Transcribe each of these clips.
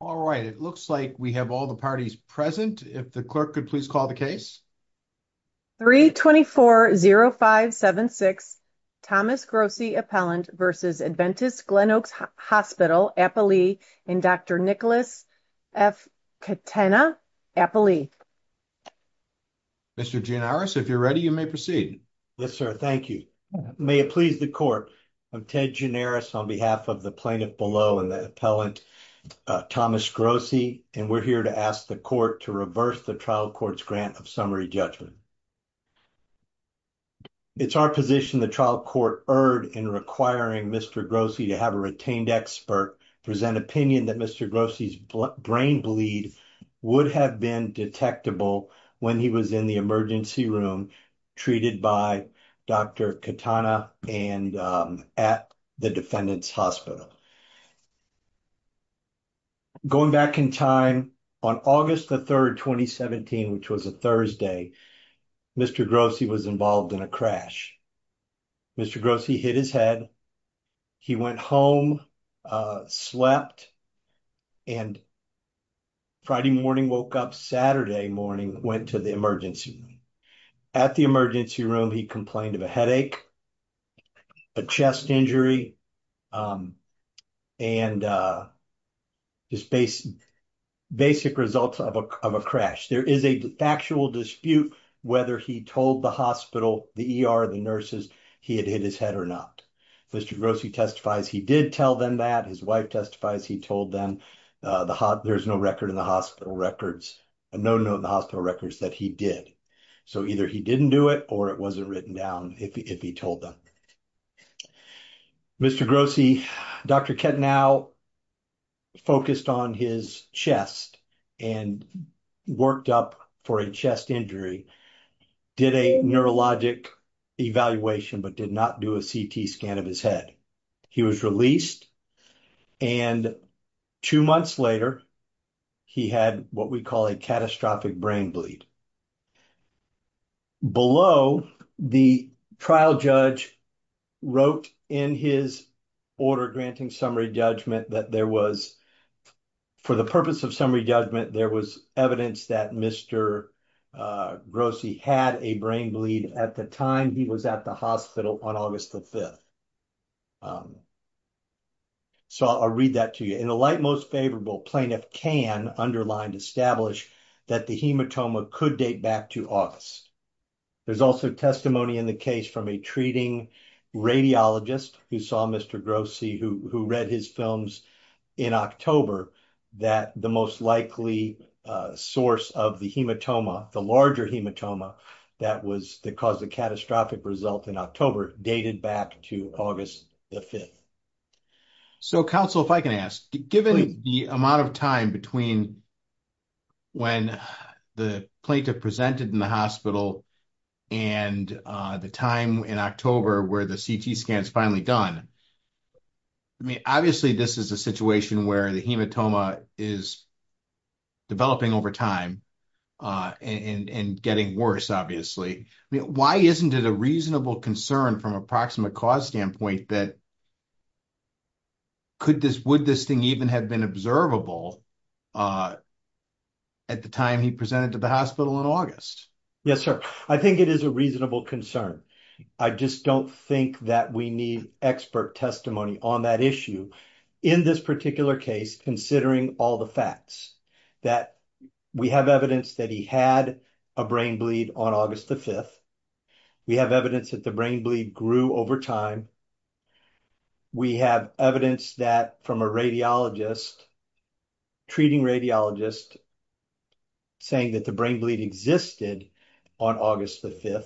All right, it looks like we have all the parties present. If the clerk could please call the case. 3-24-05-76 Thomas Grossi Appellant v. Adventist Glenoaks Hospital Appellee and Dr. Nicholas F. Katena Appellee. Mr. Gianaris, if you're ready, you may proceed. Yes, sir. Thank you. May it please the court, I'm Ted Gianaris on behalf of the and the appellant Thomas Grossi and we're here to ask the court to reverse the trial court's grant of summary judgment. It's our position the trial court erred in requiring Mr. Grossi to have a retained expert present opinion that Mr. Grossi's brain bleed would have been detectable when he was in the emergency room treated by Dr. Katena and at the defendant's hospital. Going back in time, on August the 3rd, 2017, which was a Thursday, Mr. Grossi was involved in a crash. Mr. Grossi hit his head. He went home, slept, and Friday morning, woke up Saturday morning, went to the emergency room. At the emergency room, he complained of a headache, a chest injury, and just basic results of a crash. There is a factual dispute whether he told the hospital, the ER, the nurses he had hit his head or not. Mr. Grossi testifies he did tell them that. His wife testifies he told them. There's no record in the hospital records, no note in the hospital records that he did. So either he didn't do it or it wasn't written down if he told them. Mr. Grossi, Dr. Katena focused on his chest and worked up for a chest injury, did a neurologic evaluation, but did not do a CT scan of his head. He was released, and two months later, he had what we call a catastrophic brain bleed. Below, the trial judge wrote in his order granting summary judgment that there was, for the purpose of summary judgment, there was evidence that Mr. Grossi had a brain bleed at the time he was at the hospital on August the 5th. So I'll read that to you. In the light most favorable, plaintiff can, underlined, establish that the hematoma could date back to August. There's also testimony in the case from a treating radiologist who saw Mr. Grossi, who read his films in October, that the most likely source of the hematoma, the larger hematoma that caused the catastrophic result in October, dated back to August the 5th. So, counsel, if I can ask, given the amount of time between when the plaintiff presented in the hospital and the time in October where the CT scan is finally done, I mean, obviously this is a situation where the hematoma is developing over time and getting worse, obviously. I mean, why isn't it a reasonable concern from a proximate cause standpoint that could this, would this thing even have been observable at the time he presented to the hospital in August? Yes, sir. I think it is a reasonable concern. I just don't think that we need expert testimony on that issue in this particular case, considering all the facts that we have evidence that he had a brain bleed on August the 5th. We have evidence that the brain bleed grew over time. We have evidence that from a radiologist, treating radiologist, saying that the brain bleed existed on August the 5th.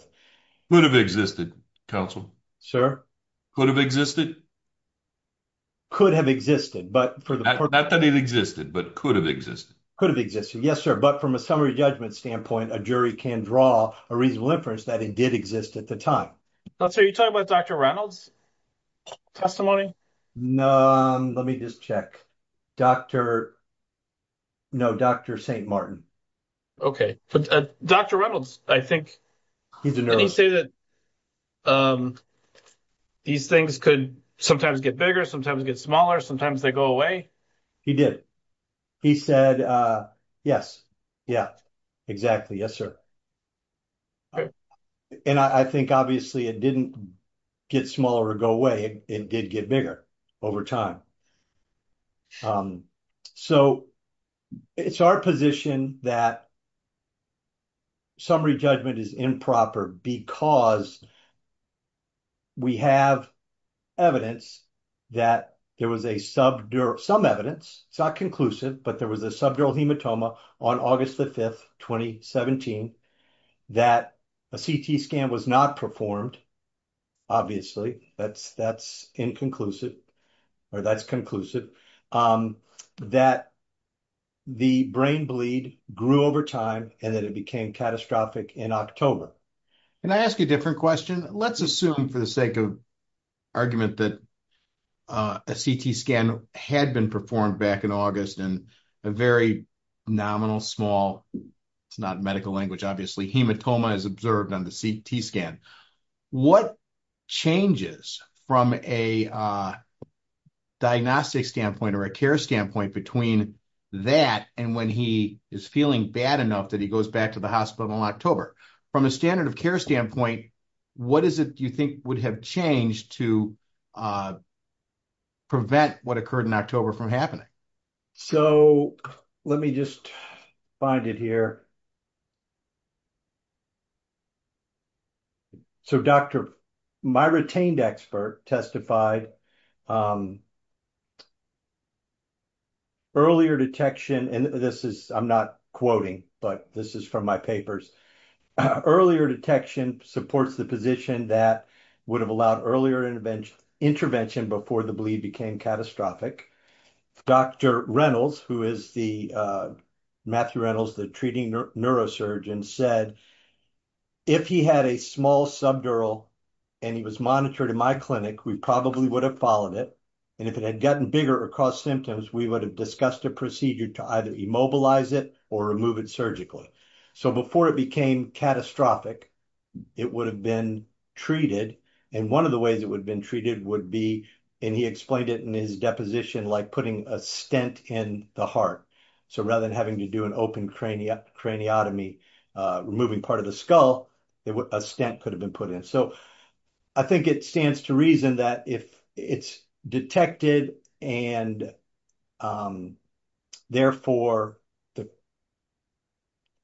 Could have existed, counsel. Sir? Could have existed. Could have existed, but for the... Not that it existed, but could have existed. Could have existed, yes, sir. But from a summary judgment standpoint, a jury can draw a reasonable inference that it did exist at the time. So, you're talking about Dr. Reynolds' testimony? No, let me just check. Dr... No, Dr. St. Martin. Okay, but Dr. Reynolds, I think... Didn't he say that these things could sometimes get bigger, sometimes get smaller, sometimes they go away? He did. He said, yes. Yeah, exactly. Yes, sir. And I think, obviously, it didn't get smaller or go away. It did get bigger over time. So, it's our position that summary judgment is improper because we have evidence that there was a subdural... Some evidence, it's not conclusive, but there was a subdural hematoma on August the 5th, 2017, that a CT scan was not performed. Obviously, that's inconclusive, or that's conclusive, that the brain bleed grew over time and that it became catastrophic in October. Can I ask a different question? Let's assume, for the sake of argument, that a CT scan had been performed back in August and a very nominal, small... It's not medical diagnostic standpoint or a care standpoint between that and when he is feeling bad enough that he goes back to the hospital in October. From a standard of care standpoint, what is it you think would have changed to prevent what occurred in October from happening? So, let me just find it here. So, doctor, my retained expert testified earlier detection... And this is... I'm not quoting, but this is from my papers. Earlier detection supports the position that would have allowed earlier intervention before the bleed became catastrophic. Dr. Reynolds, who is the... neurosurgeon said, if he had a small subdural and he was monitored in my clinic, we probably would have followed it. And if it had gotten bigger or caused symptoms, we would have discussed a procedure to either immobilize it or remove it surgically. So, before it became catastrophic, it would have been treated. And one of the ways it would have been treated would be, and he explained it in his deposition, like putting a stent in the heart. So, rather than to do an open craniotomy, removing part of the skull, a stent could have been put in. So, I think it stands to reason that if it's detected and therefore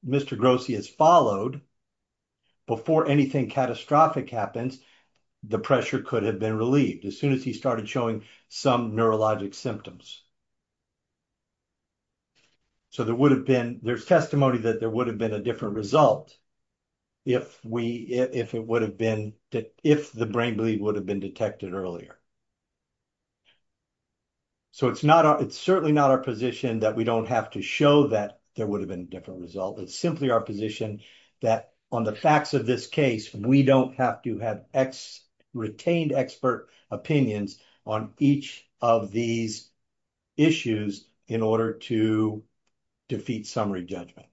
Mr. Grossi has followed, before anything catastrophic happens, the pressure could have been relieved as soon as he started showing some neurologic symptoms. So, there's testimony that there would have been a different result if the brain bleed would have been detected earlier. So, it's certainly not our position that we don't have to show that there would have been a different result. It's simply our position that on the facts of this case, we don't have to have retained expert opinions on each of these issues in order to defeat summary judgment.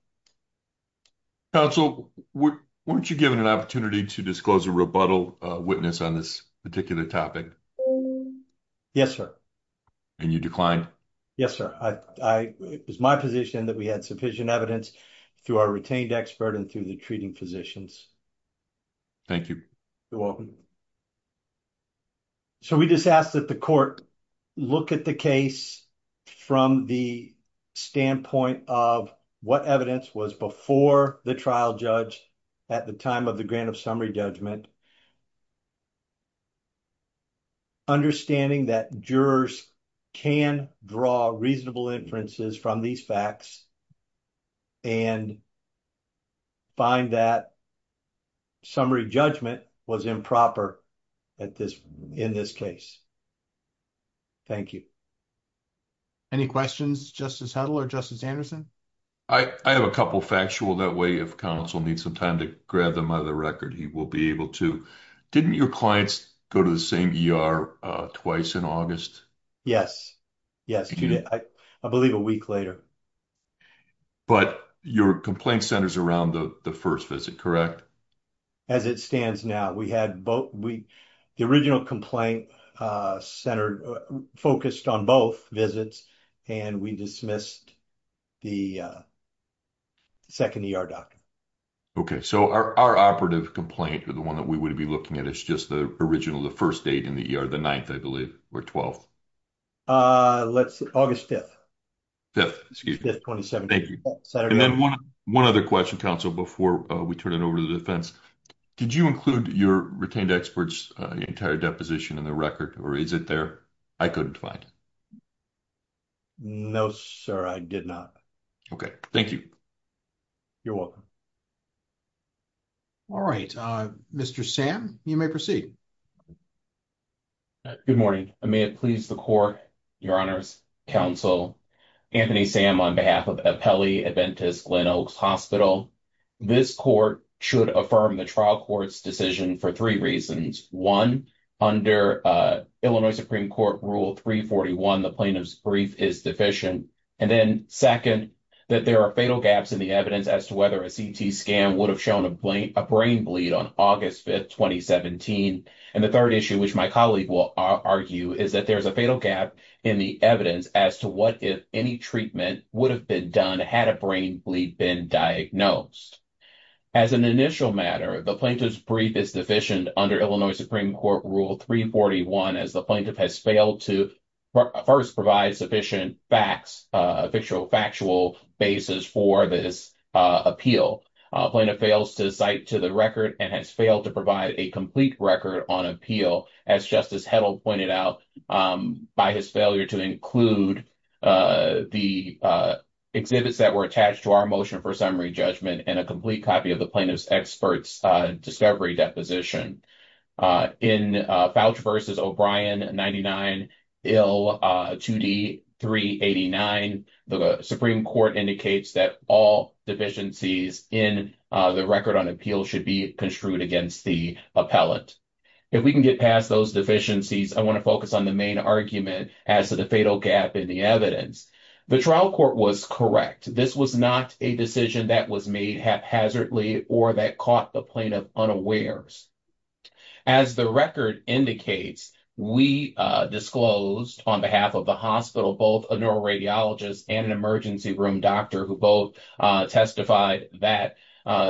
Counsel, weren't you given an opportunity to disclose a rebuttal witness on this particular topic? Yes, sir. And you declined? Yes, sir. It was my position that we had sufficient evidence through our retained expert and through the treating physicians. Thank you. You're welcome. So, we just asked that the court look at the case from the standpoint of what evidence was before the trial judge at the time of the grant of summary judgment. Understanding that jurors can draw reasonable inferences from these facts and find that summary judgment was improper in this case. Thank you. Any questions, Justice Hedl or Justice Anderson? I have a couple factual that way. If counsel needs some time to grab them out of the record, he will be able to. Didn't your clients go to the same ER twice in August? Yes. I believe a week later. But your complaint centers around the first visit, correct? As it stands now. The original complaint focused on both visits and we dismissed the second ER doctor. Okay. So, our operative complaint or the one that we would be looking at is just the original, the first date in the ER, the 9th, I believe, or 12th. Let's say August 5th. 5th, excuse me. 5th, 2017. Thank you. And then one other question, counsel, before we turn it over to the defense. Did you include your retained experts entire deposition in the record or is it there? I couldn't find it. No, sir. I did not. Okay. Thank you. You're welcome. All right. Mr. Sam, you may proceed. Good morning. May it please the court, your honors, counsel, Anthony Sam on behalf of Apelli Adventist Glen Oaks Hospital. This court should affirm the trial court's decision for three reasons. One, under Illinois Supreme Court rule 341, the plaintiff's brief is deficient. Then second, that there are fatal gaps in the evidence as to whether a CT scan would have shown a brain bleed on August 5th, 2017. And the third issue, which my colleague will argue, is that there's a fatal gap in the evidence as to what if any treatment would have been done had a brain bleed been diagnosed. As an initial matter, the plaintiff's brief is deficient under Illinois Supreme Court rule 341 as the plaintiff has failed to first provide sufficient factual basis for this appeal. Plaintiff fails to cite to the record and has failed to provide a complete record on appeal as Justice Heddle pointed out by his failure to include the exhibits that were attached to our motion for summary judgment and a complete copy of the plaintiff's experts' discovery deposition. In Fouch v. O'Brien 99 Ill 2D 389, the Supreme Court indicates that all deficiencies in the record on appeal should be construed against the appellant. If we can get past those deficiencies, I want to focus on the main argument as to the fatal gap in the evidence. The trial court was correct. This was not a decision that was made haphazardly or that caught the plaintiff unawares. As the record indicates, we disclosed on behalf of the hospital both a neuroradiologist and an emergency room doctor who both testified that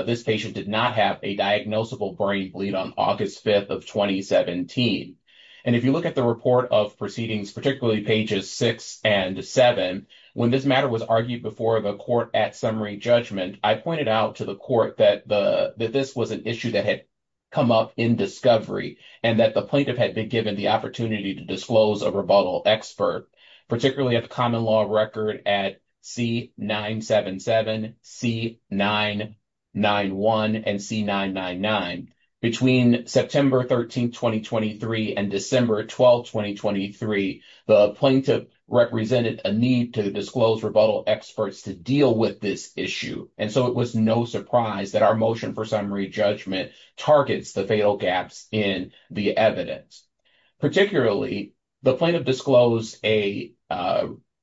this patient did not have a diagnosable brain bleed on August 5th of 2017. And if you look at the report of proceedings, particularly pages six and seven, when this matter was argued before the court at judgment, I pointed out to the court that this was an issue that had come up in discovery and that the plaintiff had been given the opportunity to disclose a rebuttal expert, particularly at the common law record at C-977, C-991, and C-999. Between September 13th, 2023, and December 12th, 2023, the plaintiff represented a need to disclose rebuttal experts to deal with this issue. And so, it was no surprise that our motion for summary judgment targets the fatal gaps in the evidence. Particularly, the plaintiff disclosed an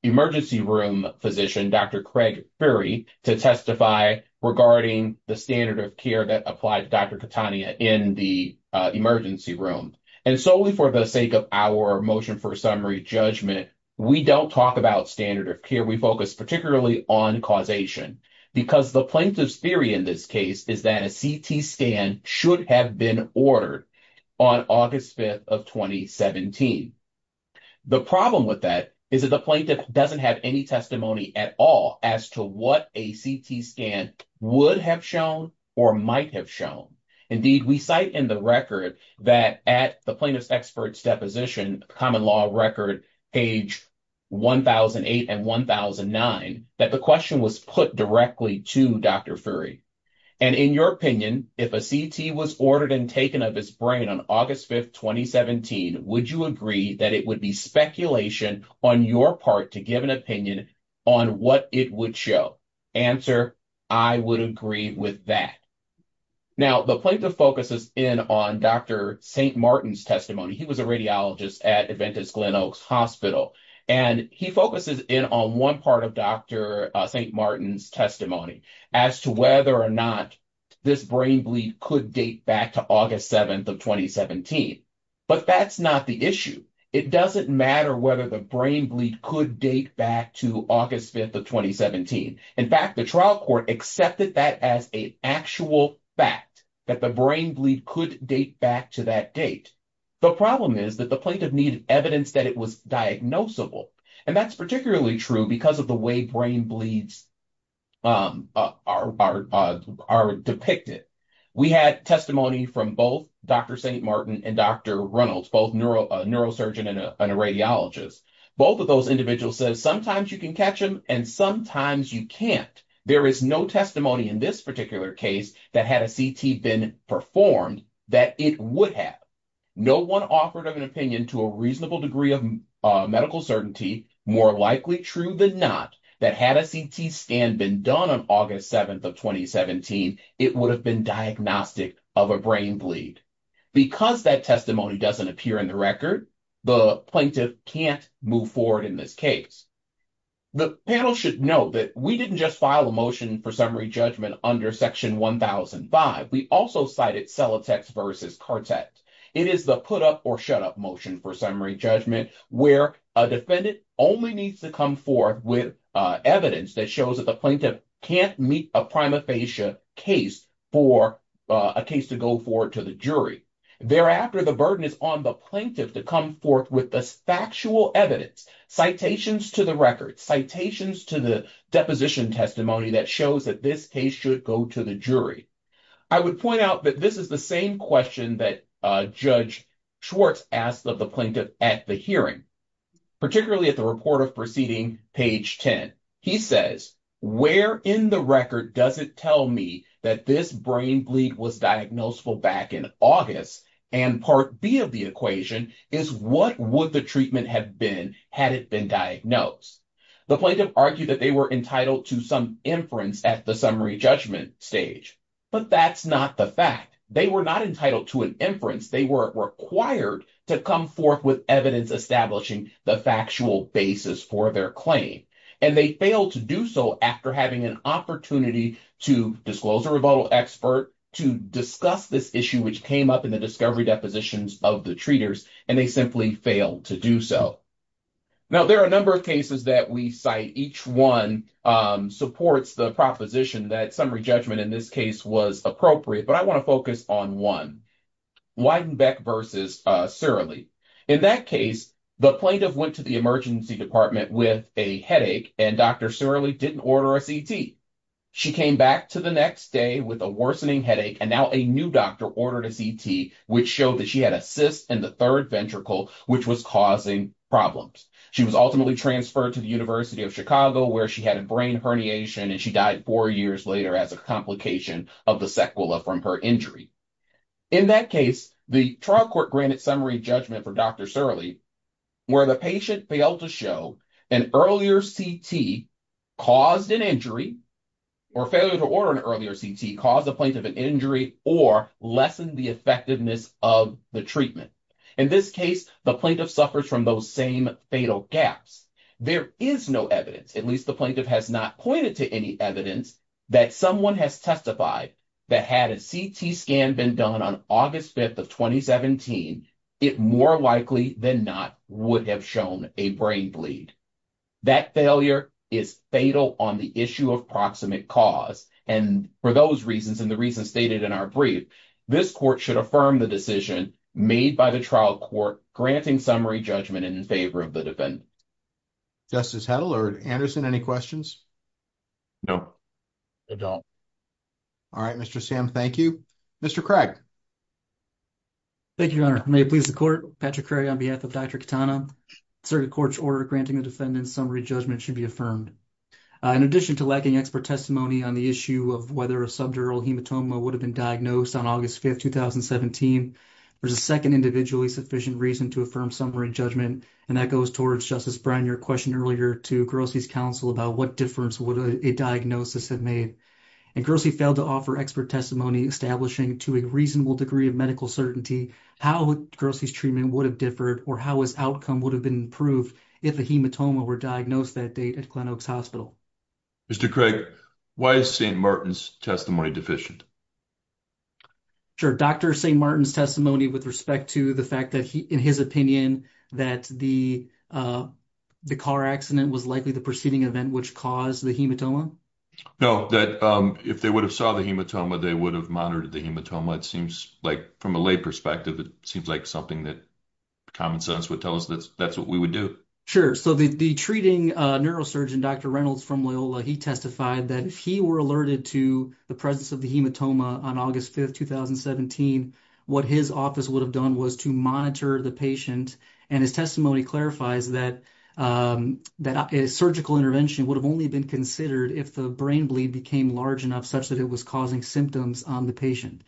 emergency room physician, Dr. Craig Fury, to testify regarding the standard of care that applied to Dr. Katania in the emergency room. And solely for the sake of our motion for summary judgment, we don't talk about standard of care. We focus particularly on causation because the plaintiff's theory in this case is that a CT scan should have been ordered on August 5th of 2017. The problem with that is that the plaintiff doesn't have any testimony at all as to what a CT scan would have shown or might have shown. Indeed, we cite in the record that at the plaintiff's expert's deposition, common law record page 1008 and 1009, that the question was put directly to Dr. Fury. And in your opinion, if a CT was ordered and taken of his brain on August 5th, 2017, would you agree that it would be speculation on your part to give an opinion on what it would show? Answer, I would agree with that. Now, the plaintiff focuses in on Dr. St. Martin's testimony. He was a radiologist at Adventist Glen Oaks Hospital. And he focuses in on one part of Dr. St. Martin's testimony as to whether or not this brain bleed could date back to August 7th of 2017. But that's not the issue. It doesn't matter whether the brain bleed could date back to August 5th of 2017. In fact, the accepted that as an actual fact that the brain bleed could date back to that date. The problem is that the plaintiff needed evidence that it was diagnosable. And that's particularly true because of the way brain bleeds are depicted. We had testimony from both Dr. St. Martin and Dr. Reynolds, both neurosurgeon and a radiologist. Both of those individuals said sometimes you can catch them and sometimes you can't. There is no testimony in this particular case that had a CT been performed that it would have. No one offered an opinion to a reasonable degree of medical certainty, more likely true than not, that had a CT scan been done on August 7th of 2017, it would have been diagnostic of a brain bleed. Because that testimony doesn't appear in the plaintiff can't move forward in this case. The panel should know that we didn't just file a motion for summary judgment under section 1005. We also cited Celotex versus Cartet. It is the put up or shut up motion for summary judgment where a defendant only needs to come forth with evidence that shows that the plaintiff can't meet a prima facie case for a case to go forward to the jury. Thereafter the burden is on the plaintiff to come forth with the factual evidence, citations to the records, citations to the deposition testimony that shows that this case should go to the jury. I would point out that this is the same question that Judge Schwartz asked of the plaintiff at the hearing, particularly at the report of proceeding page 10. He says, where in the record does it tell me that this brain bleed was diagnosable back in August? And part B of the equation is what would the treatment have been had it been diagnosed? The plaintiff argued that they were entitled to some inference at the summary judgment stage. But that's not the fact. They were not entitled to an inference. They were required to come forth with evidence establishing the factual basis for their claim. And they failed to do so after having an opportunity to disclose a rebuttal expert, to discuss this issue which came up in the discovery depositions of the treaters, and they simply failed to do so. Now there are a number of cases that we cite. Each one supports the proposition that summary judgment in this case was appropriate. But I want to focus on one, Weidenbeck versus Surly. In that case, the plaintiff went to the emergency department with a headache and Dr. Surly didn't order a CT. She came back to the next day with a worsening headache and now a new doctor ordered a CT which showed that she had a cyst in the third ventricle which was causing problems. She was ultimately transferred to the University of Chicago where she had a brain herniation and she died four years later as a complication of the sequela from her injury. In that case, the trial court granted summary judgment for Dr. Surly where the patient failed to show an earlier CT caused an injury or failure to order an earlier CT caused the plaintiff an injury or lessened the effectiveness of the treatment. In this case, the plaintiff suffers from those same fatal gaps. There is no evidence, at least the plaintiff has not pointed to any evidence that someone has testified that had a CT scan been done on August 5th of 2017, it more likely than not would have shown a brain bleed. That failure is fatal on the issue of proximate cause and for those reasons and the reasons stated in our brief, this court should affirm the decision made by the trial court granting summary judgment in favor of the defendant. Justice Heddle or Anderson, any questions? No, I don't. All right, Mr. Sam, thank you. Mr. Craig. Thank you, Your Honor. May it please the court, Patrick Craig on behalf of Dr. Katana, circuit court's order granting the defendant summary judgment should be affirmed. In addition to lacking expert testimony on the issue of whether a subdural hematoma would have been diagnosed on August 5th, 2017, there's a second individually sufficient reason to affirm your question earlier to Grossi's counsel about what difference would a diagnosis have made. And Grossi failed to offer expert testimony establishing to a reasonable degree of medical certainty how Grossi's treatment would have differed or how his outcome would have been improved if a hematoma were diagnosed that date at Glen Oaks Hospital. Mr. Craig, why is St. Martin's testimony deficient? Sure, Dr. St. Martin's testimony with respect to the fact that in his opinion that the car accident was likely the preceding event which caused the hematoma? No, that if they would have saw the hematoma, they would have monitored the hematoma. It seems like from a lay perspective, it seems like something that common sense would tell us that that's what we would do. Sure. So the treating neurosurgeon, Dr. Reynolds from Loyola, he testified that if he were alerted to the presence of the hematoma on August 5th, 2017, what his office would have done was to monitor the patient. And his testimony clarifies that surgical intervention would have only been considered if the brain bleed became large enough such that it was causing symptoms on the patient.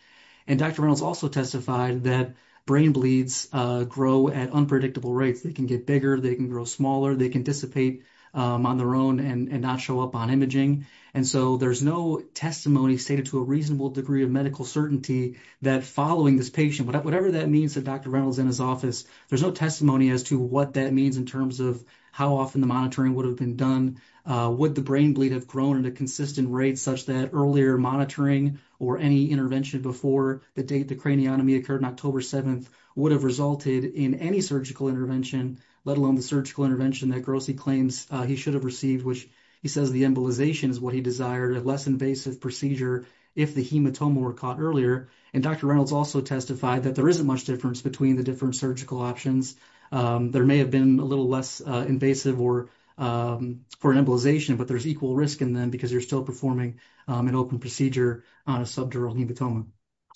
And Dr. Reynolds also testified that brain bleeds grow at unpredictable rates. They can get bigger, they can grow smaller, they can dissipate on their own and not show up on imaging. And so there's no testimony stated to a reasonable degree of medical certainty that following this patient, whatever that means that Dr. Reynolds in his office, there's no testimony as to what that means in terms of how often the monitoring would have been done. Would the brain bleed have grown at a consistent rate such that earlier monitoring or any intervention before the date the craniotomy occurred on October 7th would have resulted in any surgical intervention, let alone the surgical intervention that Grossi claims he should have which he says the embolization is what he desired, a less invasive procedure if the hematoma were caught earlier. And Dr. Reynolds also testified that there isn't much difference between the different surgical options. There may have been a little less invasive for an embolization, but there's equal risk in them because you're still performing an open procedure on a subdural hematoma.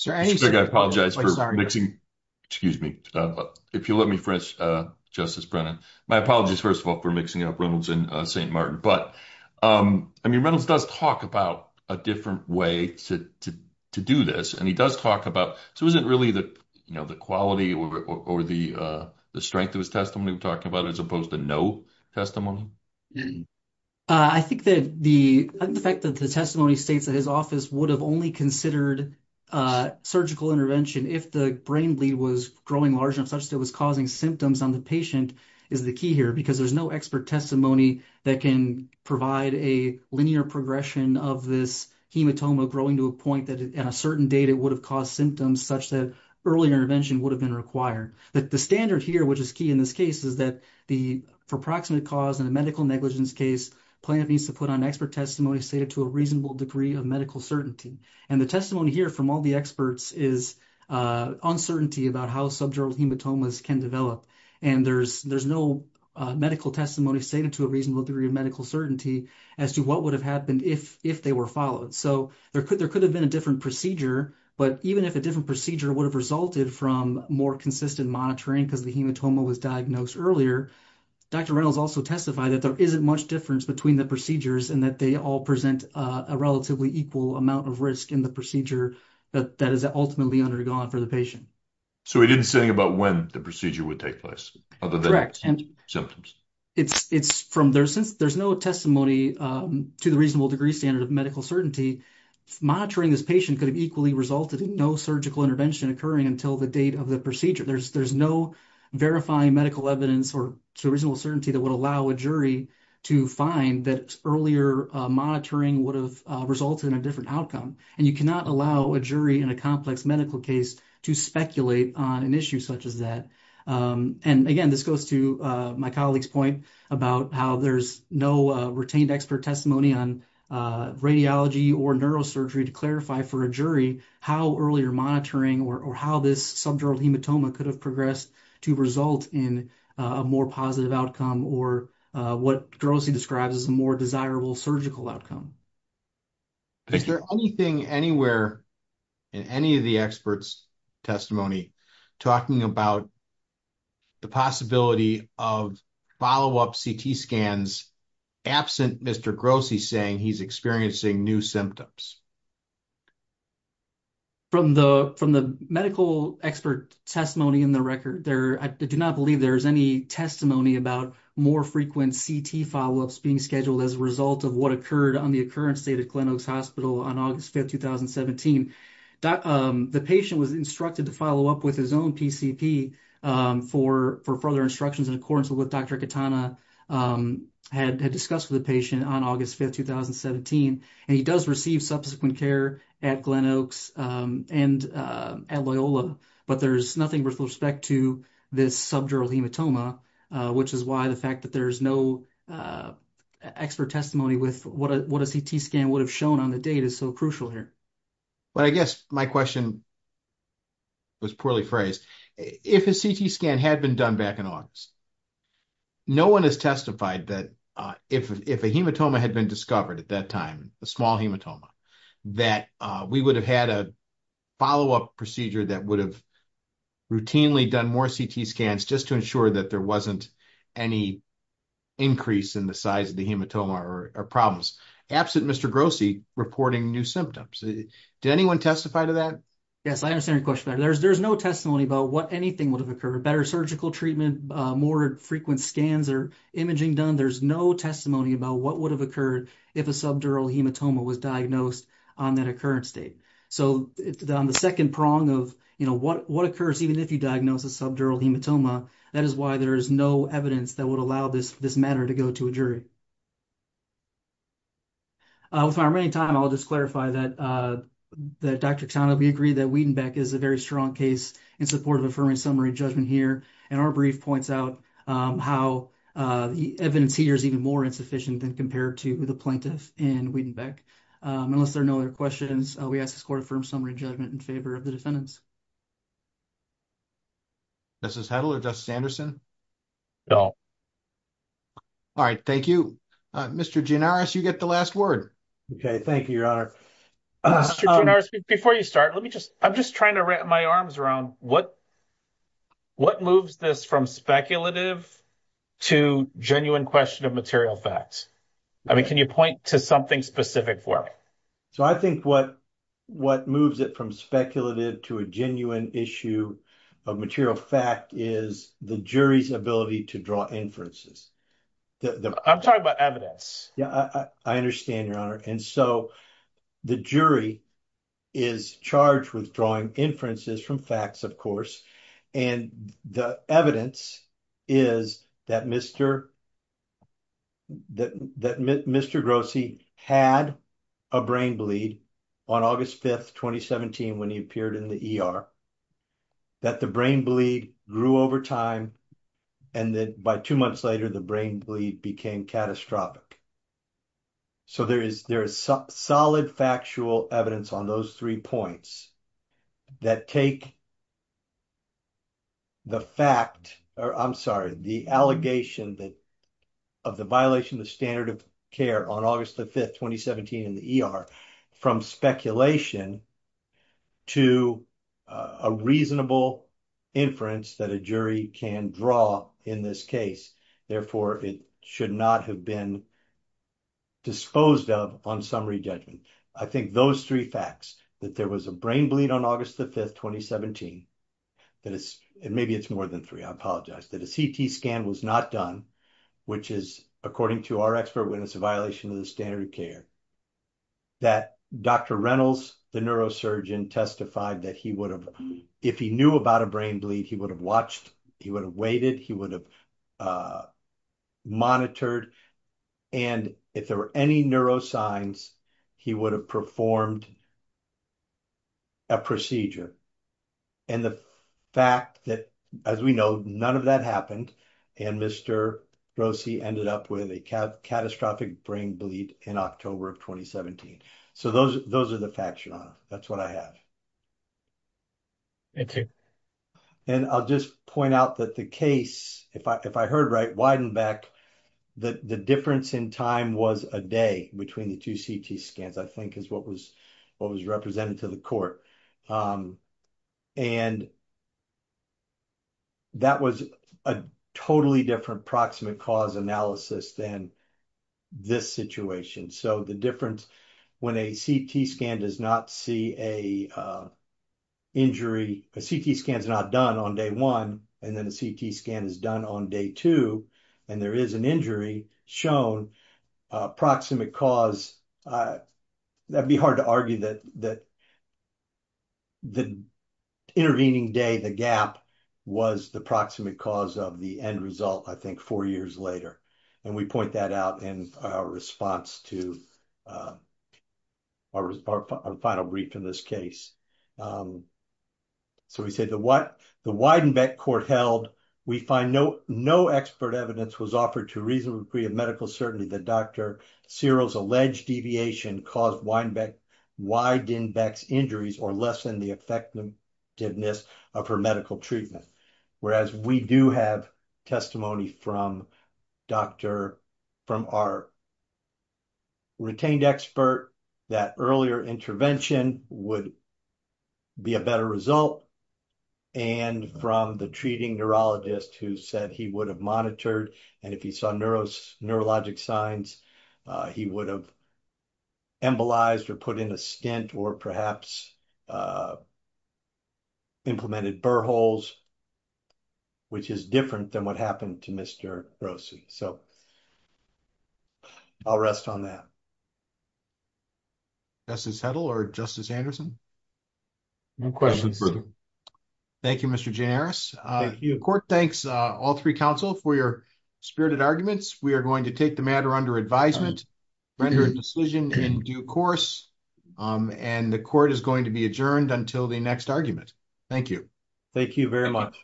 I apologize for mixing, excuse me, if you'll let me finish, Justice Brennan. My but I mean Reynolds does talk about a different way to do this and he does talk about, so isn't really the quality or the strength of his testimony we're talking about as opposed to no testimony? I think that the fact that the testimony states that his office would have only considered surgical intervention if the brain bleed was growing large enough such that it was causing symptoms on the patient is the key here because there's no expert testimony that can provide a linear progression of this hematoma growing to a point that at a certain date it would have caused symptoms such that early intervention would have been required. The standard here, which is key in this case, is that for proximate cause in a medical negligence case, plaintiff needs to put on expert testimony stated to a reasonable degree of medical certainty. And the testimony here from all the experts is uncertainty about how subdural hematomas can develop. And there's no medical testimony stated to a reasonable degree of medical certainty as to what would have happened if they were followed. So there could have been a different procedure, but even if a different procedure would have resulted from more consistent monitoring because the hematoma was diagnosed earlier, Dr. Reynolds also testified that there isn't much difference between the procedures and that they all present a relatively equal amount of risk in the procedure that is ultimately undergone for the patient. So he didn't say anything about when the procedure would take place, other than symptoms. Correct. There's no testimony to the reasonable degree standard of medical certainty. Monitoring this patient could have equally resulted in no surgical intervention occurring until the date of the procedure. There's no verifying medical evidence or reasonable certainty that would allow a jury to find that earlier monitoring would have resulted in a different outcome. And you cannot allow a jury in a complex medical case to speculate on an issue such as that. And again, this goes to my colleague's point about how there's no retained expert testimony on radiology or neurosurgery to clarify for a jury how earlier monitoring or how this subdural hematoma could have progressed to result in a more positive outcome or what grossly describes as a more desirable surgical outcome. Is there anything anywhere in any of the experts' testimony talking about the possibility of follow-up CT scans absent Mr. Grossi saying he's experiencing new symptoms? From the medical expert testimony in the record, I do not believe there is any testimony about more frequent CT follow-ups being scheduled as a result of what occurred on the occurrence at Glenn Oaks Hospital on August 5, 2017. The patient was instructed to follow up with his own PCP for further instructions in accordance with what Dr. Kitana had discussed with the patient on August 5, 2017. And he does receive subsequent care at Glenn Oaks and at Loyola, but there's nothing with respect to this subdural hematoma, which is why the fact that there's no expert testimony with what a CT scan would have shown on the date is so crucial here. But I guess my question was poorly phrased. If a CT scan had been done back in August, no one has testified that if a hematoma had been discovered at that time, a small hematoma, that we would have had a follow-up procedure that would have routinely done more CT scans just to ensure that there wasn't any increase in the size of the hematoma or problems, absent Mr. Grossi reporting new symptoms. Did anyone testify to that? Yes, I understand your question. There's no testimony about what anything would have occurred, better surgical treatment, more frequent scans or imaging done. There's no testimony about what would have occurred if a subdural hematoma was diagnosed on that occurrence date. So on the that is why there is no evidence that would allow this matter to go to a jury. With my remaining time, I'll just clarify that Dr. Oksana, we agree that Wiedenbeck is a very strong case in support of affirming summary judgment here. And our brief points out how the evidence here is even more insufficient than compared to the plaintiff in Wiedenbeck. Unless there are no other questions, we ask this court to affirm summary judgment in favor of the defendants. Justice Hedl or Justice Anderson? No. All right, thank you. Mr. Gianaris, you get the last word. Okay, thank you, Your Honor. Mr. Gianaris, before you start, let me just, I'm just trying to wrap my arms around what moves this from speculative to genuine question of material facts? I mean, can you point to something specific for me? So I think what moves it from speculative to a genuine issue of material fact is the jury's ability to draw inferences. I'm talking about evidence. Yeah, I understand, Your Honor. And so the jury is charged with drawing inferences from facts, of course. And the evidence is that Mr. Grossi had a brain bleed on August 5th, 2017, when he appeared in the ER, that the brain bleed grew over time, and that by two months later, the brain bleed became catastrophic. So there is solid factual evidence on those three points that take the fact, or I'm sorry, the allegation that of the violation of standard of care on August 5th, 2017, in the ER from speculation to a reasonable inference that a jury can draw in this case. Therefore, it should not have been disposed of on summary judgment. I think those three facts, that there was a brain bleed on August 5th, 2017, and maybe it's more than three, I apologize, that a CT scan was not done, which is, according to our expert witness, a violation of the standard of care, that Dr. Reynolds, the neurosurgeon, testified that if he knew about a brain bleed, he would have watched, he would have waited, he would have monitored. And if there were any signs, he would have performed a procedure. And the fact that, as we know, none of that happened, and Mr. Grossi ended up with a catastrophic brain bleed in October of 2017. So those are the facts, your honor. That's what I have. And I'll just point out that the case, if I heard widened back, the difference in time was a day between the two CT scans, I think is what was represented to the court. And that was a totally different proximate cause analysis than this situation. So the difference when a CT scan does not see a injury, a CT scan is not done on day one, and then a CT scan is done on day two, and there is an injury shown, proximate cause, that'd be hard to argue that the intervening day, the gap, was the proximate cause of the end result, I think, four years later. And we point that out in our response to our final brief in this case. So we say that what the Weidenbeck court held, we find no expert evidence was offered to reasonable degree of medical certainty that Dr. Cyril's alleged deviation caused Weidenbeck's injuries or lessen the effectiveness of her treatment. Whereas we do have testimony from our retained expert that earlier intervention would be a better result, and from the treating neurologist who said he would have monitored, and if he saw neurologic signs, he would have embolized or put in a stint or perhaps implemented burr holes, which is different than what happened to Mr. Grossi. So, I'll rest on that. Justice Hedl or Justice Anderson? No questions. Thank you, Mr. Gianaris. The court thanks all three counsel for your spirited arguments. We are going to take the matter under advisement, render a decision in due course, and the court is going to be adjourned until the next argument. Thank you. Thank you very much.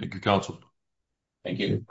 Thank you, counsel. Thank you.